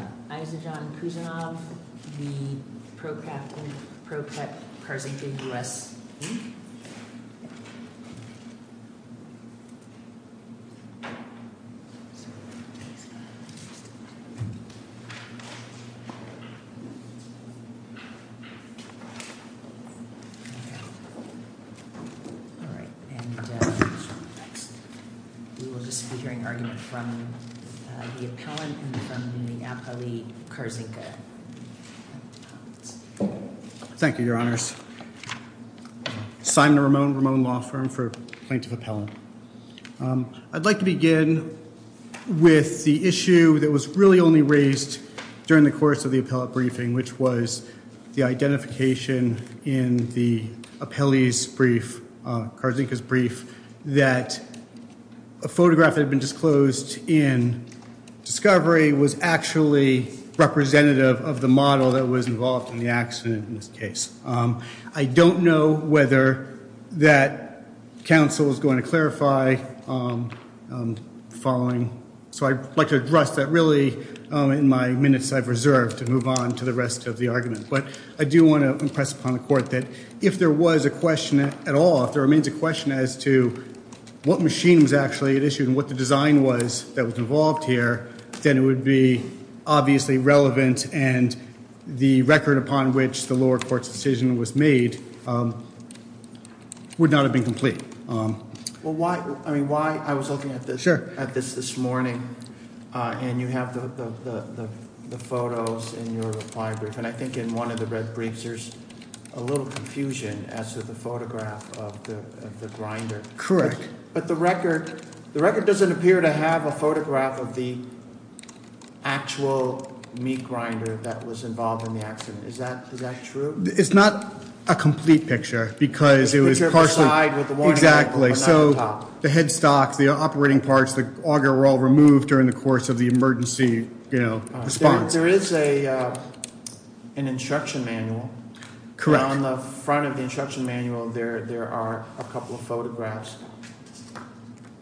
All right, and we will just be hearing argument from the appellant and from the appellant I'd like to begin with the issue that was really only raised during the course of the appellate briefing, which was the identification in the appellee's brief, Kharzinka's brief, that a photograph had been disclosed in Discovery was actually representative of the model that was involved in the accident in this case. I don't know whether that counsel is going to clarify following, so I'd like to address that really in my minutes I've reserved to move on to the rest of the argument, but I do want to impress upon the court that if there was a question at all, if there remains a question as to what machine was actually at issue and what the design was that was involved here, then it would be obviously relevant and the record upon which the lower court's decision was made would not have been complete. I was looking at this this morning and you have the photos in your reply brief and I think in one of the red briefs there's a little confusion as to the photograph of the grinder. Correct. But the record doesn't appear to have a photograph of the actual meat grinder that was involved in the accident. Is that true? It's not a complete picture because it was partially Exactly. So the headstocks, the operating parts, the auger were all removed during the course of the emergency response. There is an instruction manual. Correct. On the front of the instruction manual there are a couple of photographs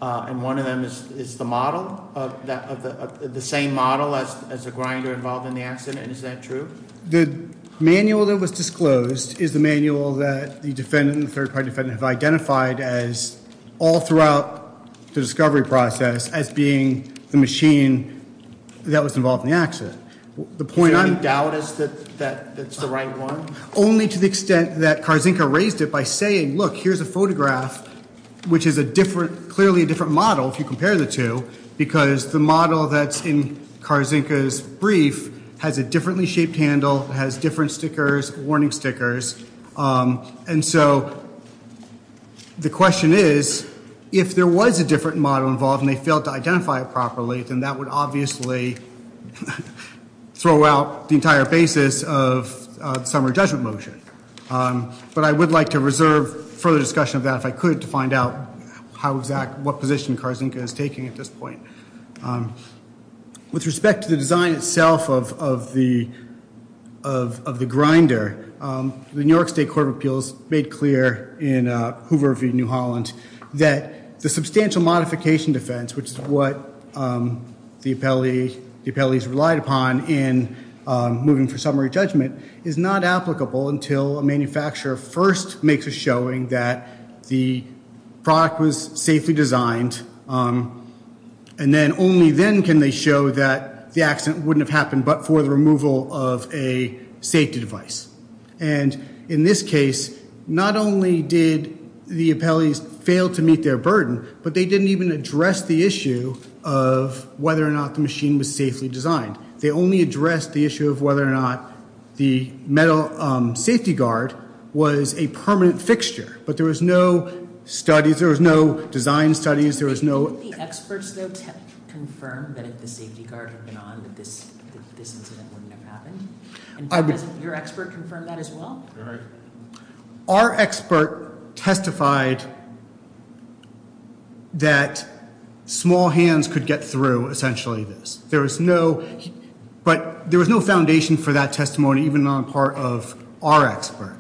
and one of them is the model, the same model as the grinder involved in the accident. Is that true? The manual that was disclosed is the manual that the defendant and the third party defendant have identified as all throughout the discovery process as being the machine that was involved in the accident. Is there any doubt that it's the right one? Only to the extent that Karzynka raised it by saying, look, here's a photograph, which is clearly a different model if you compare the two, because the model that's in Karzynka's brief has a differently shaped handle, has different stickers, warning stickers. And so the question is, if there was a different model involved and they failed to identify it properly, then that would obviously throw out the entire basis of the summary judgment motion. But I would like to reserve further discussion of that if I could to find out what position Karzynka is taking at this point. With respect to the design itself of the grinder, the New York State Court of Appeals made clear in Hoover v. New Holland that the substantial modification defense, which is what the appellees relied upon in moving for summary judgment, is not applicable until a manufacturer first makes a showing that the product was safely designed, and then only then can they show that the accident wouldn't have happened but for the removal of a safety device. And in this case, not only did the appellees fail to meet their burden, but they didn't even address the issue of whether or not the machine was safely designed. They only addressed the issue of whether or not the safety guard was a permanent fixture. But there was no design studies. Did the experts, though, confirm that if the safety guard had been on, that this incident wouldn't have happened? And has your expert confirmed that as well? Our expert testified that small hands could get through, essentially, this. But there was no foundation for that testimony, even on the part of our expert.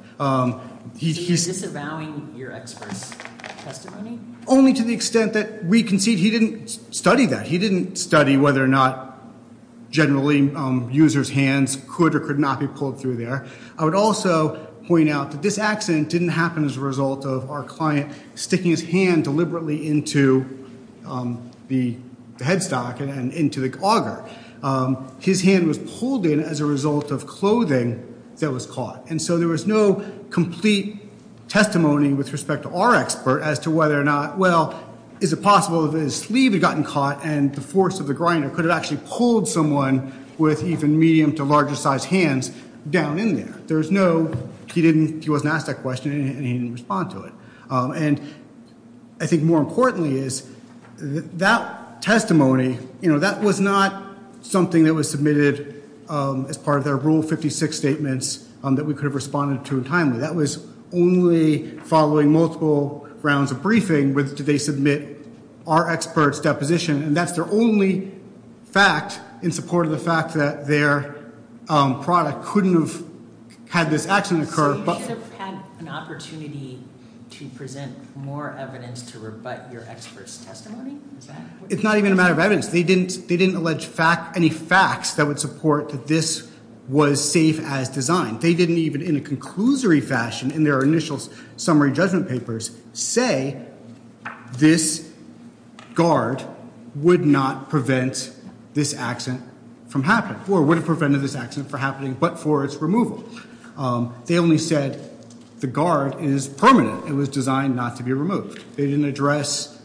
He's disavowing your expert's testimony? Only to the extent that we concede he didn't study that. He didn't study whether or not, generally, users' hands could or could not be pulled through there. I would also point out that this accident didn't happen as a result of our client sticking his hand deliberately into the headstock and into the auger. His hand was pulled in as a result of clothing that was caught. And so there was no complete testimony with respect to our expert as to whether or not, well, is it possible that his sleeve had gotten caught, and the force of the grinder could have actually pulled someone with even medium- to larger-sized hands down in there. He wasn't asked that question, and he didn't respond to it. And I think more importantly is that testimony, you know, that was not something that was submitted as part of their Rule 56 statements that we could have responded to timely. That was only following multiple rounds of briefing with did they submit our expert's deposition. And that's their only fact in support of the fact that their product couldn't have had this accident occur. Have you had an opportunity to present more evidence to rebut your expert's testimony? It's not even a matter of evidence. They didn't allege any facts that would support that this was safe as designed. They didn't even, in a conclusory fashion in their initial summary judgment papers, say this guard would not prevent this accident from happening or would have prevented this accident from happening but for its removal. They only said the guard is permanent. It was designed not to be removed. They didn't address,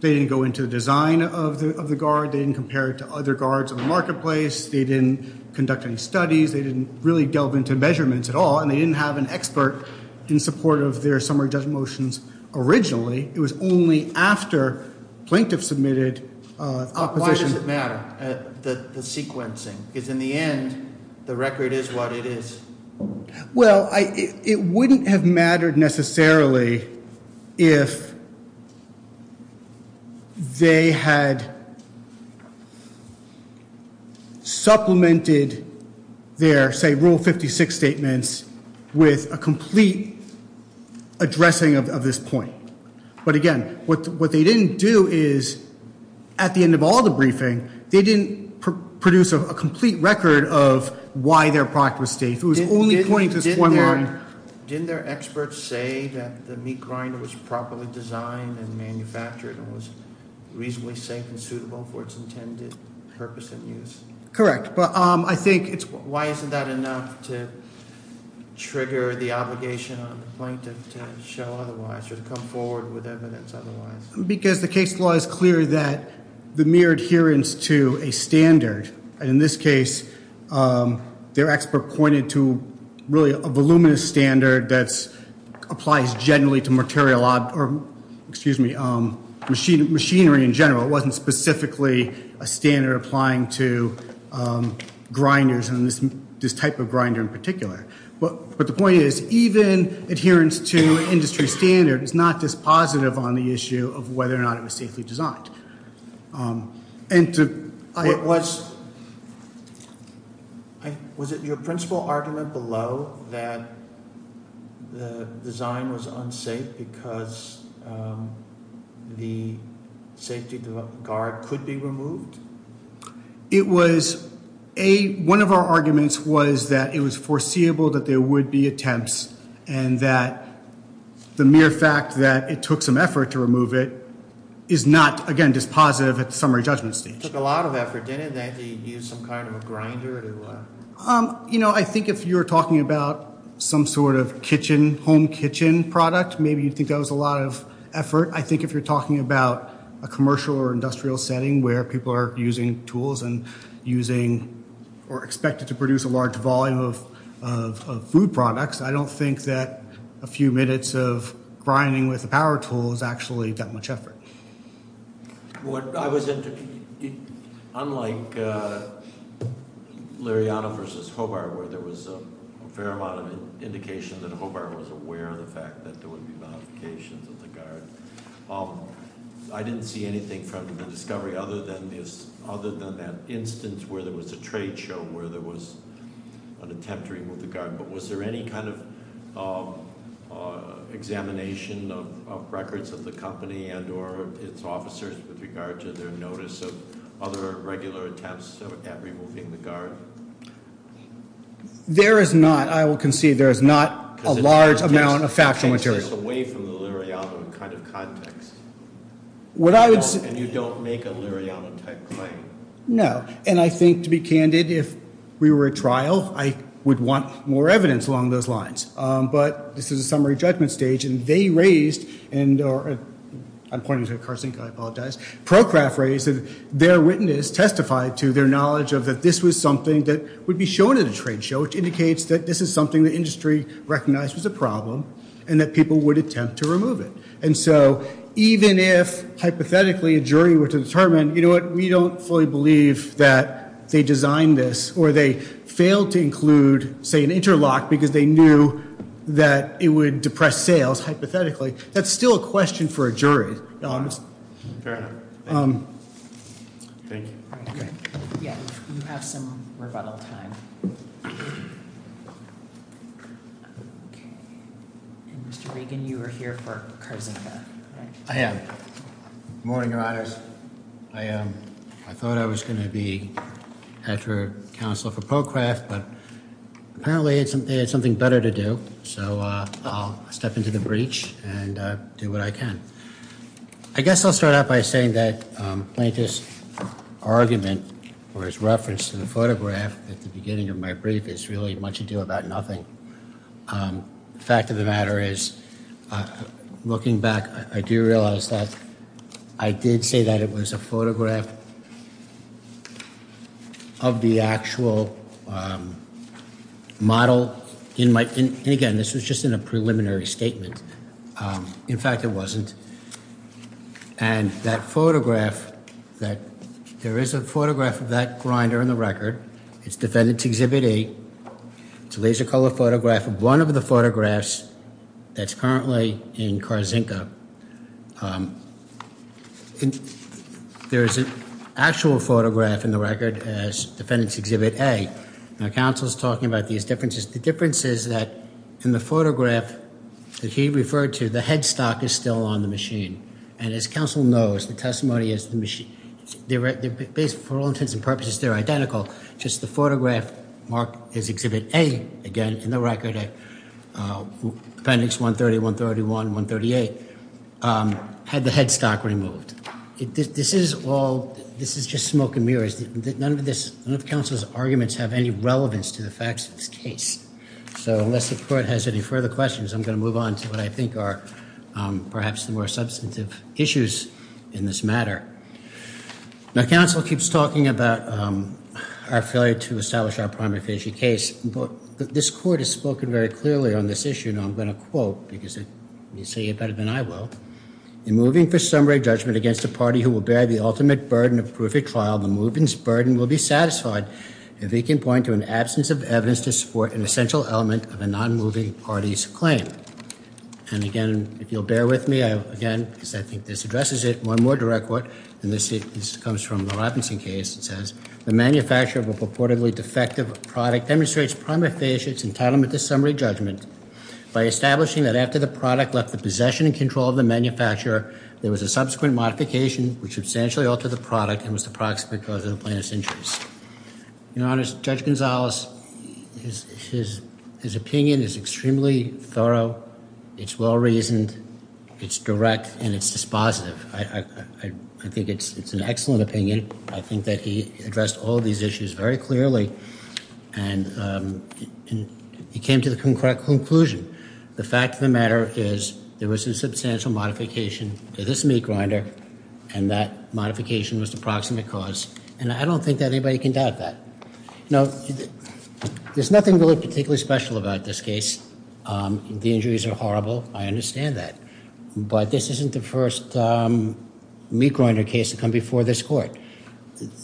they didn't go into the design of the guard. They didn't compare it to other guards in the marketplace. They didn't conduct any studies. They didn't really delve into measurements at all, and they didn't have an expert in support of their summary judgment motions originally. It was only after plaintiff submitted a position. Why does it matter, the sequencing? Because in the end, the record is what it is. Well, it wouldn't have mattered necessarily if they had supplemented their, say, Rule 56 statements with a complete addressing of this point. But again, what they didn't do is, at the end of all the briefing, they didn't produce a complete record of why their product was safe. It was only pointing to this point line. Didn't their experts say that the meat grinder was properly designed and manufactured and was reasonably safe and suitable for its intended purpose and use? Correct, but I think it's- I don't hear the obligation on the plaintiff to show otherwise or to come forward with evidence otherwise. Because the case law is clear that the mere adherence to a standard, and in this case their expert pointed to really a voluminous standard that applies generally to material, or excuse me, machinery in general. It wasn't specifically a standard applying to grinders and this type of grinder in particular. But the point is, even adherence to industry standard is not dispositive on the issue of whether or not it was safely designed. And to- Was it your principal argument below that the design was unsafe because the safety guard could be removed? It was a- One of our arguments was that it was foreseeable that there would be attempts, and that the mere fact that it took some effort to remove it is not, again, dispositive at the summary judgment stage. It took a lot of effort. Didn't they have to use some kind of a grinder to- You know, I think if you're talking about some sort of kitchen, home kitchen product, maybe you'd think that was a lot of effort. I think if you're talking about a commercial or industrial setting where people are using tools and using or expected to produce a large volume of food products, I don't think that a few minutes of grinding with a power tool is actually that much effort. What I was- Unlike Liriana v. Hobart, where there was a fair amount of indication that Hobart was aware of the fact that there would be modifications of the guard, I didn't see anything from the discovery other than that instance where there was a trade show, where there was an attempt to remove the guard. But was there any kind of examination of records of the company and or its officers with regard to their notice of other regular attempts at removing the guard? There is not. I will concede there is not a large amount of factual material. Because it takes this away from the Liriana kind of context. What I would say- And you don't make a Liriana-type claim. No. And I think, to be candid, if we were at trial, I would want more evidence along those lines. But this is a summary judgment stage, and they raised- I'm pointing to a car sink, I apologize- Procraft raised that their witness testified to their knowledge of that this was something that would be shown at a trade show, which indicates that this is something the industry recognized was a problem and that people would attempt to remove it. And so, even if, hypothetically, a jury were to determine, you know what, we don't fully believe that they designed this, or they failed to include, say, an interlock because they knew that it would depress sales, hypothetically, that's still a question for a jury. Fair enough. Thank you. Yeah, you have some rebuttal time. Okay. And, Mr. Regan, you are here for a car sink, correct? I am. Good morning, Your Honors. I thought I was going to be after counsel for Procraft, but apparently they had something better to do, so I'll step into the breach and do what I can. I guess I'll start out by saying that Plaintiff's argument, or his reference to the photograph at the beginning of my brief, is really much ado about nothing. The fact of the matter is, looking back, I do realize that I did say that it was a photograph of the actual model. And, again, this was just in a preliminary statement. In fact, it wasn't. And that photograph, there is a photograph of that grinder in the record. It's Defendant's Exhibit A. It's a laser color photograph of one of the photographs that's currently in Carzinka. There is an actual photograph in the record as Defendant's Exhibit A. Now, counsel's talking about these differences. The difference is that in the photograph that he referred to, the headstock is still on the machine. And as counsel knows, the testimony is, for all intents and purposes, they're identical. Just the photograph marked as Exhibit A, again, in the record, Appendix 130, 131, 138, had the headstock removed. This is all, this is just smoke and mirrors. None of this, none of counsel's arguments have any relevance to the facts of this case. So, unless the court has any further questions, I'm going to move on to what I think are perhaps the more substantive issues in this matter. Now, counsel keeps talking about our failure to establish our primary case. This court has spoken very clearly on this issue, and I'm going to quote, because they say it better than I will. In moving for summary judgment against a party who will bear the ultimate burden of proof at trial, the moving's burden will be satisfied if it can point to an absence of evidence to support an essential element of a non-moving party's claim. And again, if you'll bear with me, again, because I think this addresses it. One more direct quote, and this comes from the Robinson case. It says, the manufacture of a purportedly defective product demonstrates prima facie its entitlement to summary judgment by establishing that after the product left the possession and control of the manufacturer, there was a subsequent modification which substantially altered the product and was the proximate cause of the plaintiff's injuries. Your Honor, Judge Gonzales, his opinion is extremely thorough. It's well-reasoned. It's direct, and it's dispositive. I think it's an excellent opinion. I think that he addressed all these issues very clearly. And he came to the correct conclusion. The fact of the matter is there was a substantial modification to this meat grinder, and that modification was the proximate cause. And I don't think that anybody can doubt that. Now, there's nothing really particularly special about this case. The injuries are horrible. I understand that. But this isn't the first meat grinder case to come before this court.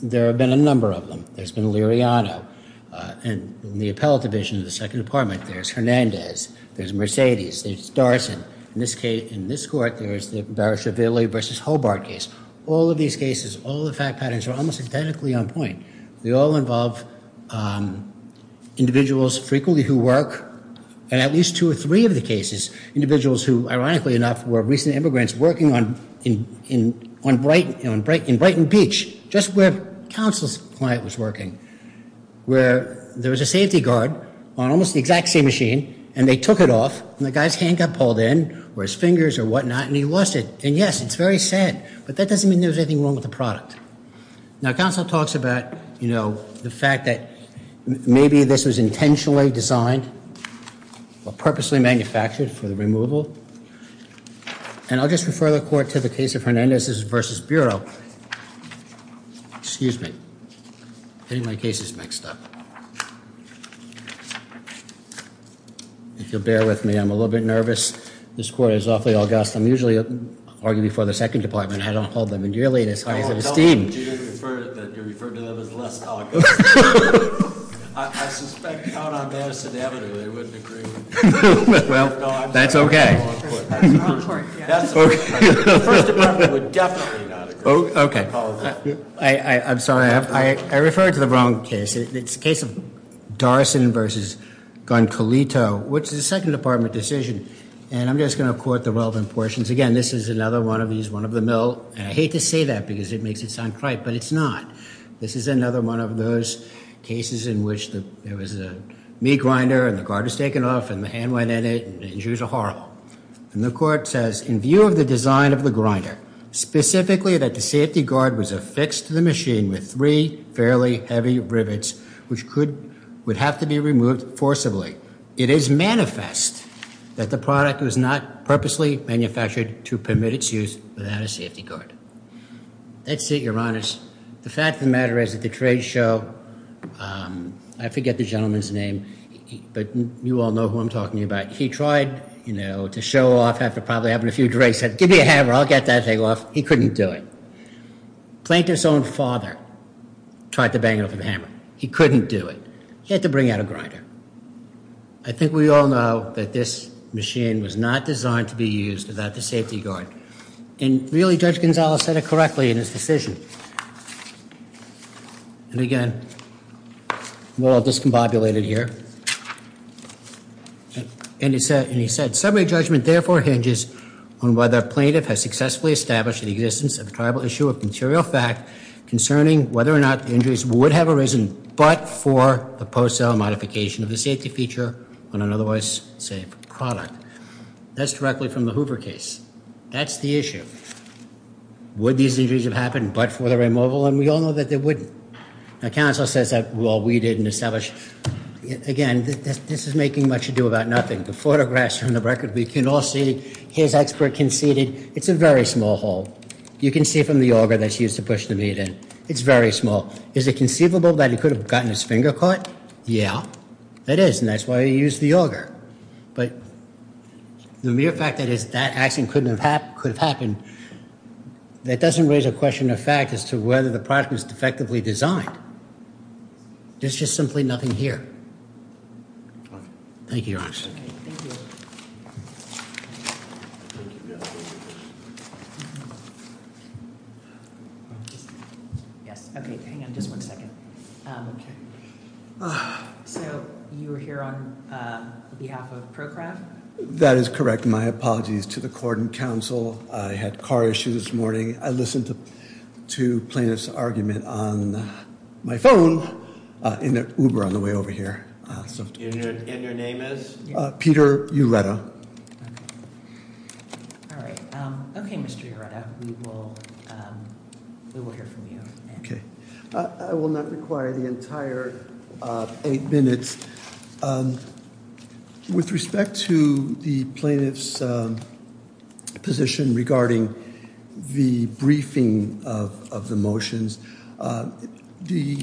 There have been a number of them. There's been a Liriano. And in the appellate division of the second department, there's Hernandez. There's Mercedes. There's Darson. In this court, there's the Barashvili v. Hobart case. All of these cases, all the fact patterns are almost identically on point. They all involve individuals frequently who work, and at least two or three of the cases, individuals who, ironically enough, were recent immigrants working on Brighton Beach, just where Counsel's client was working, where there was a safety guard on almost the exact same machine, and they took it off, and the guy's hand got pulled in or his fingers or whatnot, and he lost it. And, yes, it's very sad, but that doesn't mean there was anything wrong with the product. Now, Counsel talks about, you know, the fact that maybe this was intentionally designed or purposely manufactured for the removal. And I'll just refer the court to the case of Hernandez's v. Bureau. Excuse me. Getting my cases mixed up. If you'll bear with me, I'm a little bit nervous. This court is awfully august. I'm usually arguing before the second department. I don't hold them in dearly. I won't tell them that you referred to them as less talk. I suspect out on Madison Avenue they wouldn't agree. Well, that's okay. The first department would definitely not agree. Okay. I'm sorry. I referred to the wrong case. It's the case of Darson v. Goncolito, which is a second department decision, and I'm just going to quote the relevant portions. Again, this is another one of these, one of the mill, and I hate to say that because it makes it sound trite, but it's not. This is another one of those cases in which there was a meat grinder, and the grinder was taken off, and the hand went in it, and the injuries were horrible. And the court says, in view of the design of the grinder, specifically that the safety guard was affixed to the machine with three fairly heavy rivets, which would have to be removed forcibly, it is manifest that the product was not purposely manufactured to permit its use without a safety guard. That's it, Your Honors. The fact of the matter is that the trade show, I forget the gentleman's name, but you all know who I'm talking about. He tried, you know, to show off after probably having a few drinks, said, give me a hammer, I'll get that thing off. He couldn't do it. Plaintiff's own father tried to bang it with a hammer. He couldn't do it. He had to bring out a grinder. I think we all know that this machine was not designed to be used without the safety guard. And really, Judge Gonzales said it correctly in his decision. And again, we're all discombobulated here. And he said, summary judgment therefore hinges on whether a plaintiff has successfully established the existence of a tribal issue of material fact concerning whether or not injuries would have arisen, but for the post-sale modification of the safety feature on an otherwise safe product. That's directly from the Hoover case. That's the issue. Would these injuries have happened but for the removal? And we all know that they wouldn't. Now, counsel says that, well, we didn't establish. Again, this is making much ado about nothing. The photographs from the record, we can all see his expert conceded it's a very small hole. You can see from the auger that he used to push the meat in. It's very small. Is it conceivable that he could have gotten his finger caught? Yeah, it is. And that's why he used the auger. But the mere fact that that accident could have happened, that doesn't raise a question of fact as to whether the product was effectively designed. There's just simply nothing here. Thank you, Your Honor. Thank you. Yes, okay, hang on just one second. Okay. So you were here on behalf of ProCraft? That is correct. My apologies to the court and counsel. I had car issues this morning. I listened to plaintiff's argument on my phone in an Uber on the way over here. And your name is? Peter Ureta. All right. Okay, Mr. Ureta, we will hear from you. Okay. I will not require the entire eight minutes. With respect to the plaintiff's position regarding the briefing of the motions, the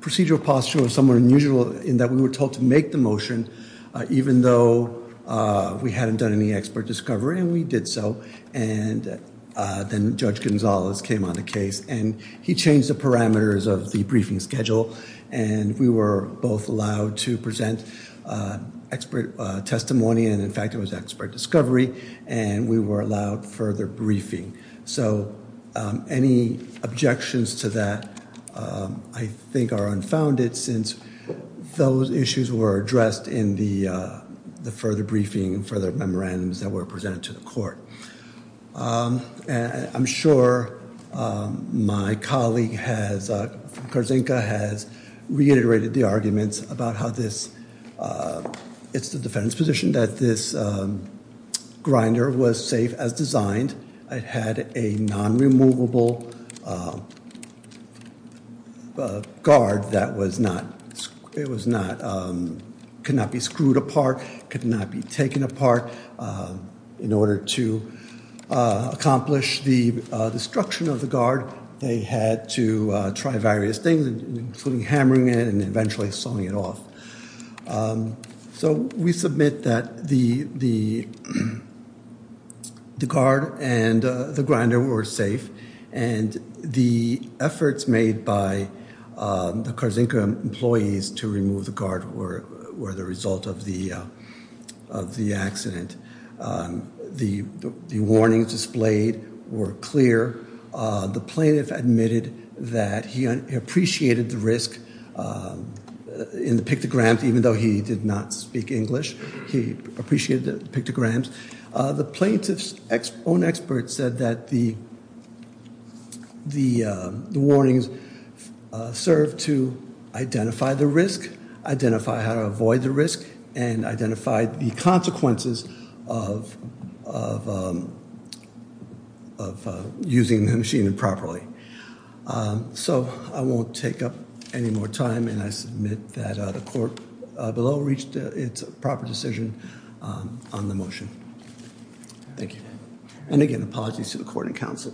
procedural posture was somewhat unusual in that we were told to make the motion even though we hadn't done any expert discovery, and we did so. And then Judge Gonzalez came on the case, and he changed the parameters of the briefing schedule, and we were both allowed to present expert testimony, and, in fact, it was expert discovery, and we were allowed further briefing. So any objections to that I think are unfounded since those issues were addressed in the further briefing, and further memorandums that were presented to the court. I'm sure my colleague from Karzinka has reiterated the arguments about how it's the defendant's position that this grinder was safe as designed. It had a non-removable guard that could not be screwed apart, could not be taken apart. In order to accomplish the destruction of the guard, they had to try various things, including hammering it and eventually sawing it off. So we submit that the guard and the grinder were safe, and the efforts made by the Karzinka employees to remove the guard were the result of the accident. The warnings displayed were clear. The plaintiff admitted that he appreciated the risk in the pictograms, even though he did not speak English. He appreciated the pictograms. The plaintiff's own experts said that the warnings served to identify the risk, identify how to avoid the risk, and identify the consequences of using the machine improperly. So I won't take up any more time, and I submit that the court below reached its proper decision on the motion. Thank you. And again, apologies to the court and counsel.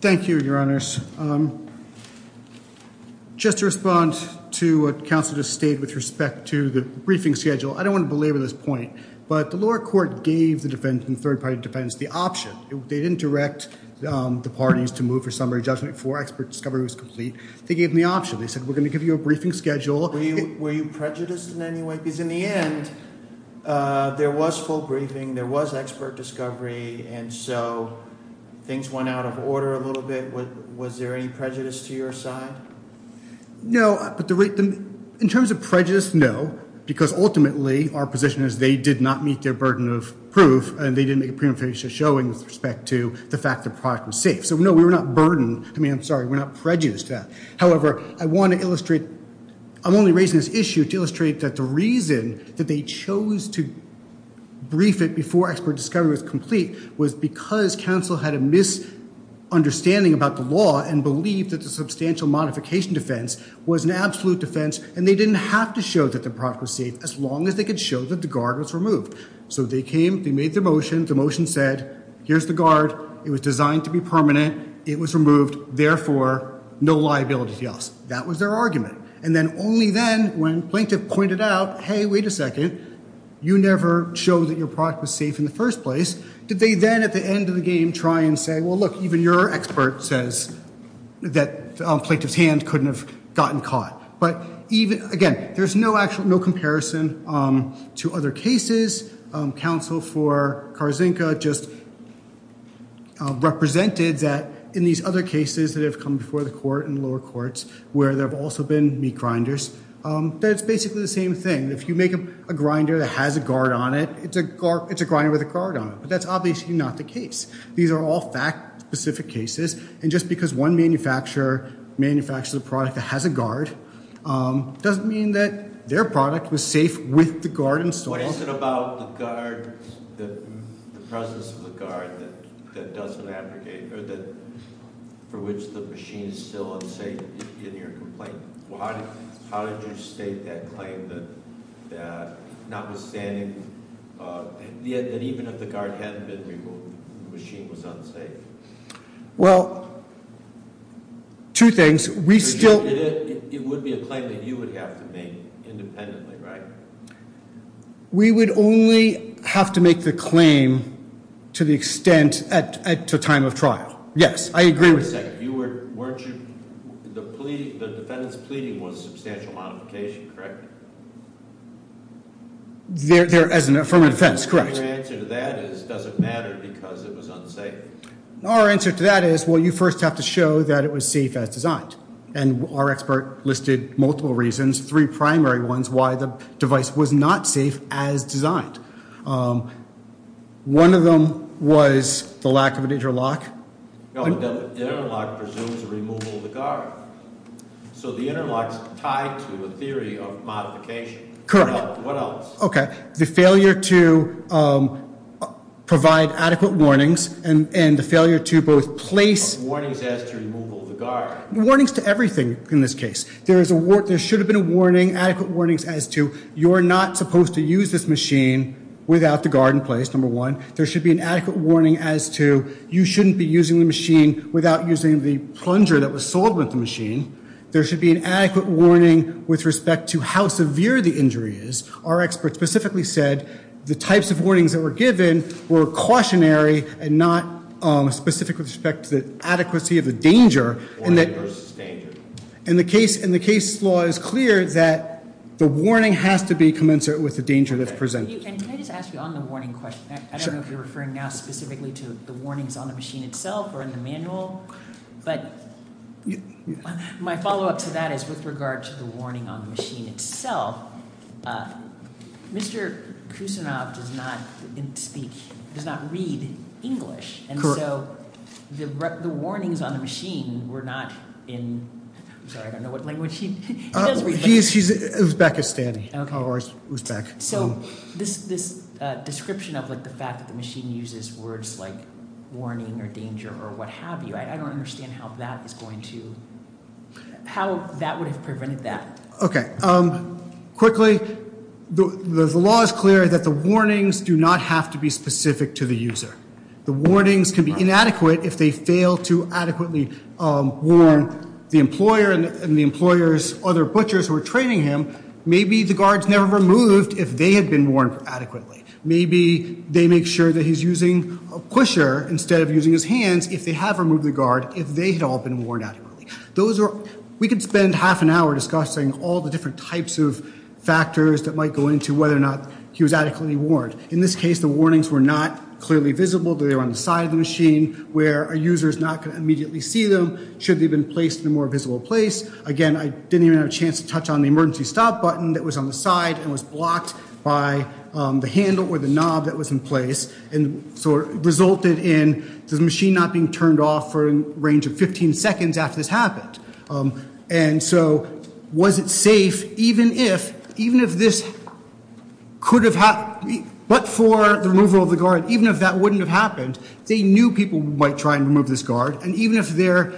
Thank you, Your Honors. Just to respond to what counsel just stated with respect to the briefing schedule, I don't want to belabor this point, but the lower court gave the third party defendants the option. They didn't direct the parties to move for summary judgment before expert discovery was complete. They gave them the option. They said, we're going to give you a briefing schedule. Were you prejudiced in any way? Because in the end, there was full briefing, there was expert discovery, and so things went out of order a little bit. Was there any prejudice to your side? No. In terms of prejudice, no, because ultimately our position is they did not meet their burden of proof, and they didn't make a prima facie showing with respect to the fact the product was safe. So no, we were not burdened. I mean, I'm sorry. We're not prejudiced to that. However, I want to illustrate, I'm only raising this issue to illustrate that the reason that they chose to brief it before expert discovery was complete was because counsel had a misunderstanding about the law and believed that the substantial modification defense was an absolute defense, and they didn't have to show that the product was safe as long as they could show that the guard was removed. So they came. They made their motion. The motion said, here's the guard. It was designed to be permanent. It was removed. Therefore, no liability to us. That was their argument. And then only then, when plaintiff pointed out, hey, wait a second, you never showed that your product was safe in the first place, did they then at the end of the game try and say, well, look, even your expert says that plaintiff's hand couldn't have gotten caught. Again, there's no comparison to other cases. Counsel for Karzynka just represented that in these other cases that have come before the court and lower courts where there have also been meat grinders, that it's basically the same thing. If you make a grinder that has a guard on it, it's a grinder with a guard on it. But that's obviously not the case. These are all fact-specific cases. And just because one manufacturer manufactured a product that has a guard doesn't mean that their product was safe with the guard installed. What is it about the guard, the presence of the guard that doesn't abrogate or for which the machine is still unsafe in your complaint? How did you state that claim that notwithstanding, that even if the guard hadn't been removed, the machine was unsafe? Well, two things. We still... It would be a claim that you would have to make independently, right? We would only have to make the claim to the extent at the time of trial. Yes, I agree with you. Wait a second. The defendant's pleading was substantial modification, correct? As an affirmative defense, correct. Our answer to that is it doesn't matter because it was unsafe. Our answer to that is, well, you first have to show that it was safe as designed. And our expert listed multiple reasons, three primary ones, why the device was not safe as designed. One of them was the lack of an interlock. The interlock presumes removal of the guard. So the interlock's tied to a theory of modification. Correct. What else? Okay. The failure to provide adequate warnings and the failure to both place... Warnings as to removal of the guard. Warnings to everything in this case. There should have been adequate warnings as to you're not supposed to use this machine without the guard in place, number one. There should be an adequate warning as to you shouldn't be using the machine without using the plunger that was sold with the machine. There should be an adequate warning with respect to how severe the injury is. Our expert specifically said the types of warnings that were given were cautionary and not specific with respect to the adequacy of the danger. Warning versus danger. And the case law is clear that the warning has to be commensurate with the danger that's presented. Can I just ask you on the warning question? Sure. I don't know if you're referring now specifically to the warnings on the machine itself or in the manual, but my follow-up to that is with regard to the warning on the machine itself. Mr. Kusinov does not speak, does not read English. Correct. And so the warnings on the machine were not in... I'm sorry, I don't know what language he does read. Uzbekistani or Uzbek. So this description of the fact that the machine uses words like warning or danger or what have you, I don't understand how that is going to – how that would have prevented that. Okay. Quickly, the law is clear that the warnings do not have to be specific to the user. The warnings can be inadequate if they fail to adequately warn the employer and the employer's other butchers who are training him. Maybe the guard's never removed if they had been warned adequately. Maybe they make sure that he's using a pusher instead of using his hands if they have removed the guard if they had all been warned adequately. Those are – we could spend half an hour discussing all the different types of factors that might go into whether or not he was adequately warned. In this case, the warnings were not clearly visible. They were on the side of the machine where a user is not going to immediately see them should they have been placed in a more visible place. Again, I didn't even have a chance to touch on the emergency stop button that was on the side and was blocked by the handle or the knob that was in place. And so it resulted in the machine not being turned off for a range of 15 seconds after this happened. And so was it safe even if – even if this could have – but for the removal of the guard, even if that wouldn't have happened, they knew people might try and remove this guard. And even if there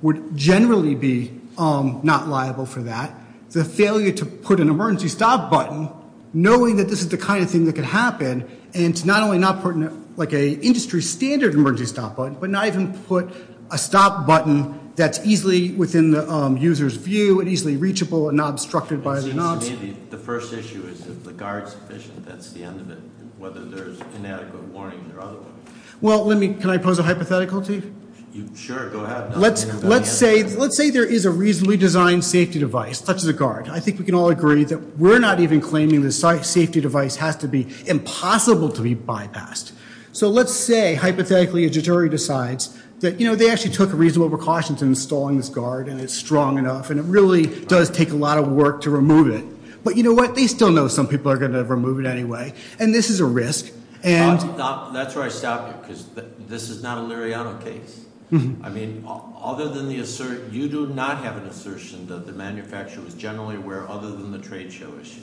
would generally be not liable for that, the failure to put an emergency stop button, knowing that this is the kind of thing that could happen, and to not only not put like an industry standard emergency stop button, but not even put a stop button that's easily within the user's view and easily reachable and not obstructed by the knobs. The first issue is if the guard's efficient, that's the end of it, whether there's inadequate warning or otherwise. Well, let me – can I pose a hypothetical to you? Sure, go ahead. Let's say there is a reasonably designed safety device, such as a guard. I think we can all agree that we're not even claiming the safety device has to be impossible to be bypassed. So let's say, hypothetically, a jury decides that they actually took reasonable precautions in installing this guard and it's strong enough and it really does take a lot of work to remove it. But you know what? They still know some people are going to remove it anyway, and this is a risk. That's where I stop you, because this is not a Liriano case. I mean, other than the assertion – you do not have an assertion that the manufacturer was generally aware, other than the trade show issue.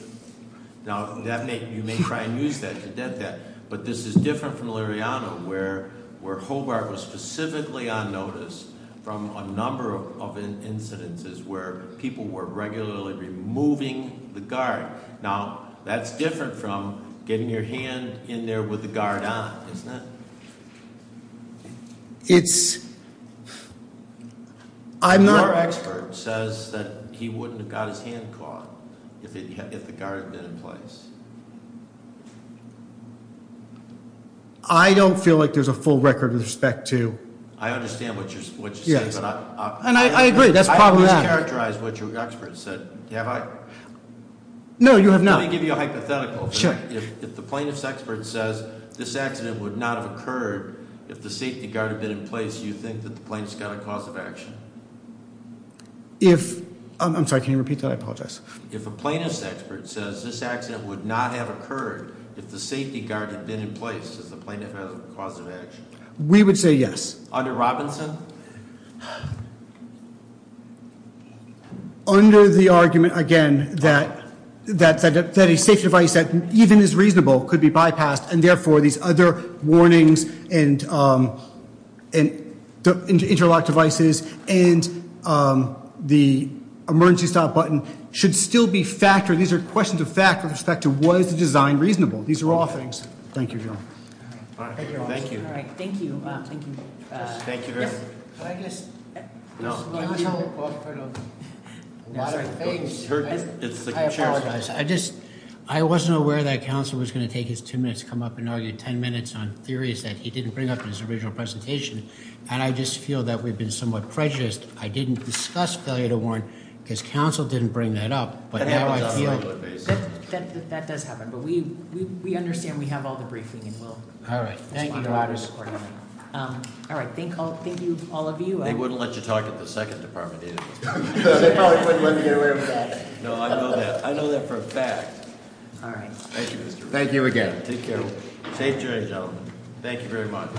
Now, that may – you may try and use that to debt that, but this is different from Liriano, where Hobart was specifically on notice from a number of incidences where people were regularly removing the guard. Now, that's different from getting your hand in there with the guard on, isn't it? It's – I'm not – Your expert says that he wouldn't have got his hand caught if the guard had been in place. I don't feel like there's a full record with respect to – I understand what you're saying, but I – Yes, and I agree. That's probably – Let me characterize what your expert said. Have I? No, you have not. Let me give you a hypothetical. Sure. If the plaintiff's expert says this accident would not have occurred if the safety guard had been in place, do you think that the plaintiff's got a cause of action? If – I'm sorry, can you repeat that? I apologize. If a plaintiff's expert says this accident would not have occurred if the safety guard had been in place, does the plaintiff have a cause of action? We would say yes. Under Robinson? Under the argument, again, that a safety device that even is reasonable could be bypassed, and therefore these other warnings and interlock devices and the emergency stop button should still be factored. These are questions of fact with respect to was the design reasonable. These are all things. Thank you, John. All right. Thank you. Thank you. Thank you. Thank you very much. Can I just – No. A lot of things. I apologize. I just – I wasn't aware that counsel was going to take his two minutes to come up and argue ten minutes on theories that he didn't bring up in his original presentation, and I just feel that we've been somewhat prejudiced. I didn't discuss failure to warn because counsel didn't bring that up, but now I feel – That happens on a regular basis. That does happen, but we understand we have all the briefing and will respond to it. All right. Thank you, all of you. They wouldn't let you talk at the second department, either. They probably wouldn't let me get away with that. No, I know that. I know that for a fact. All right. Thank you, Mr. Reardon. Thank you again. Take care. Safe journey, gentlemen. Thank you very much.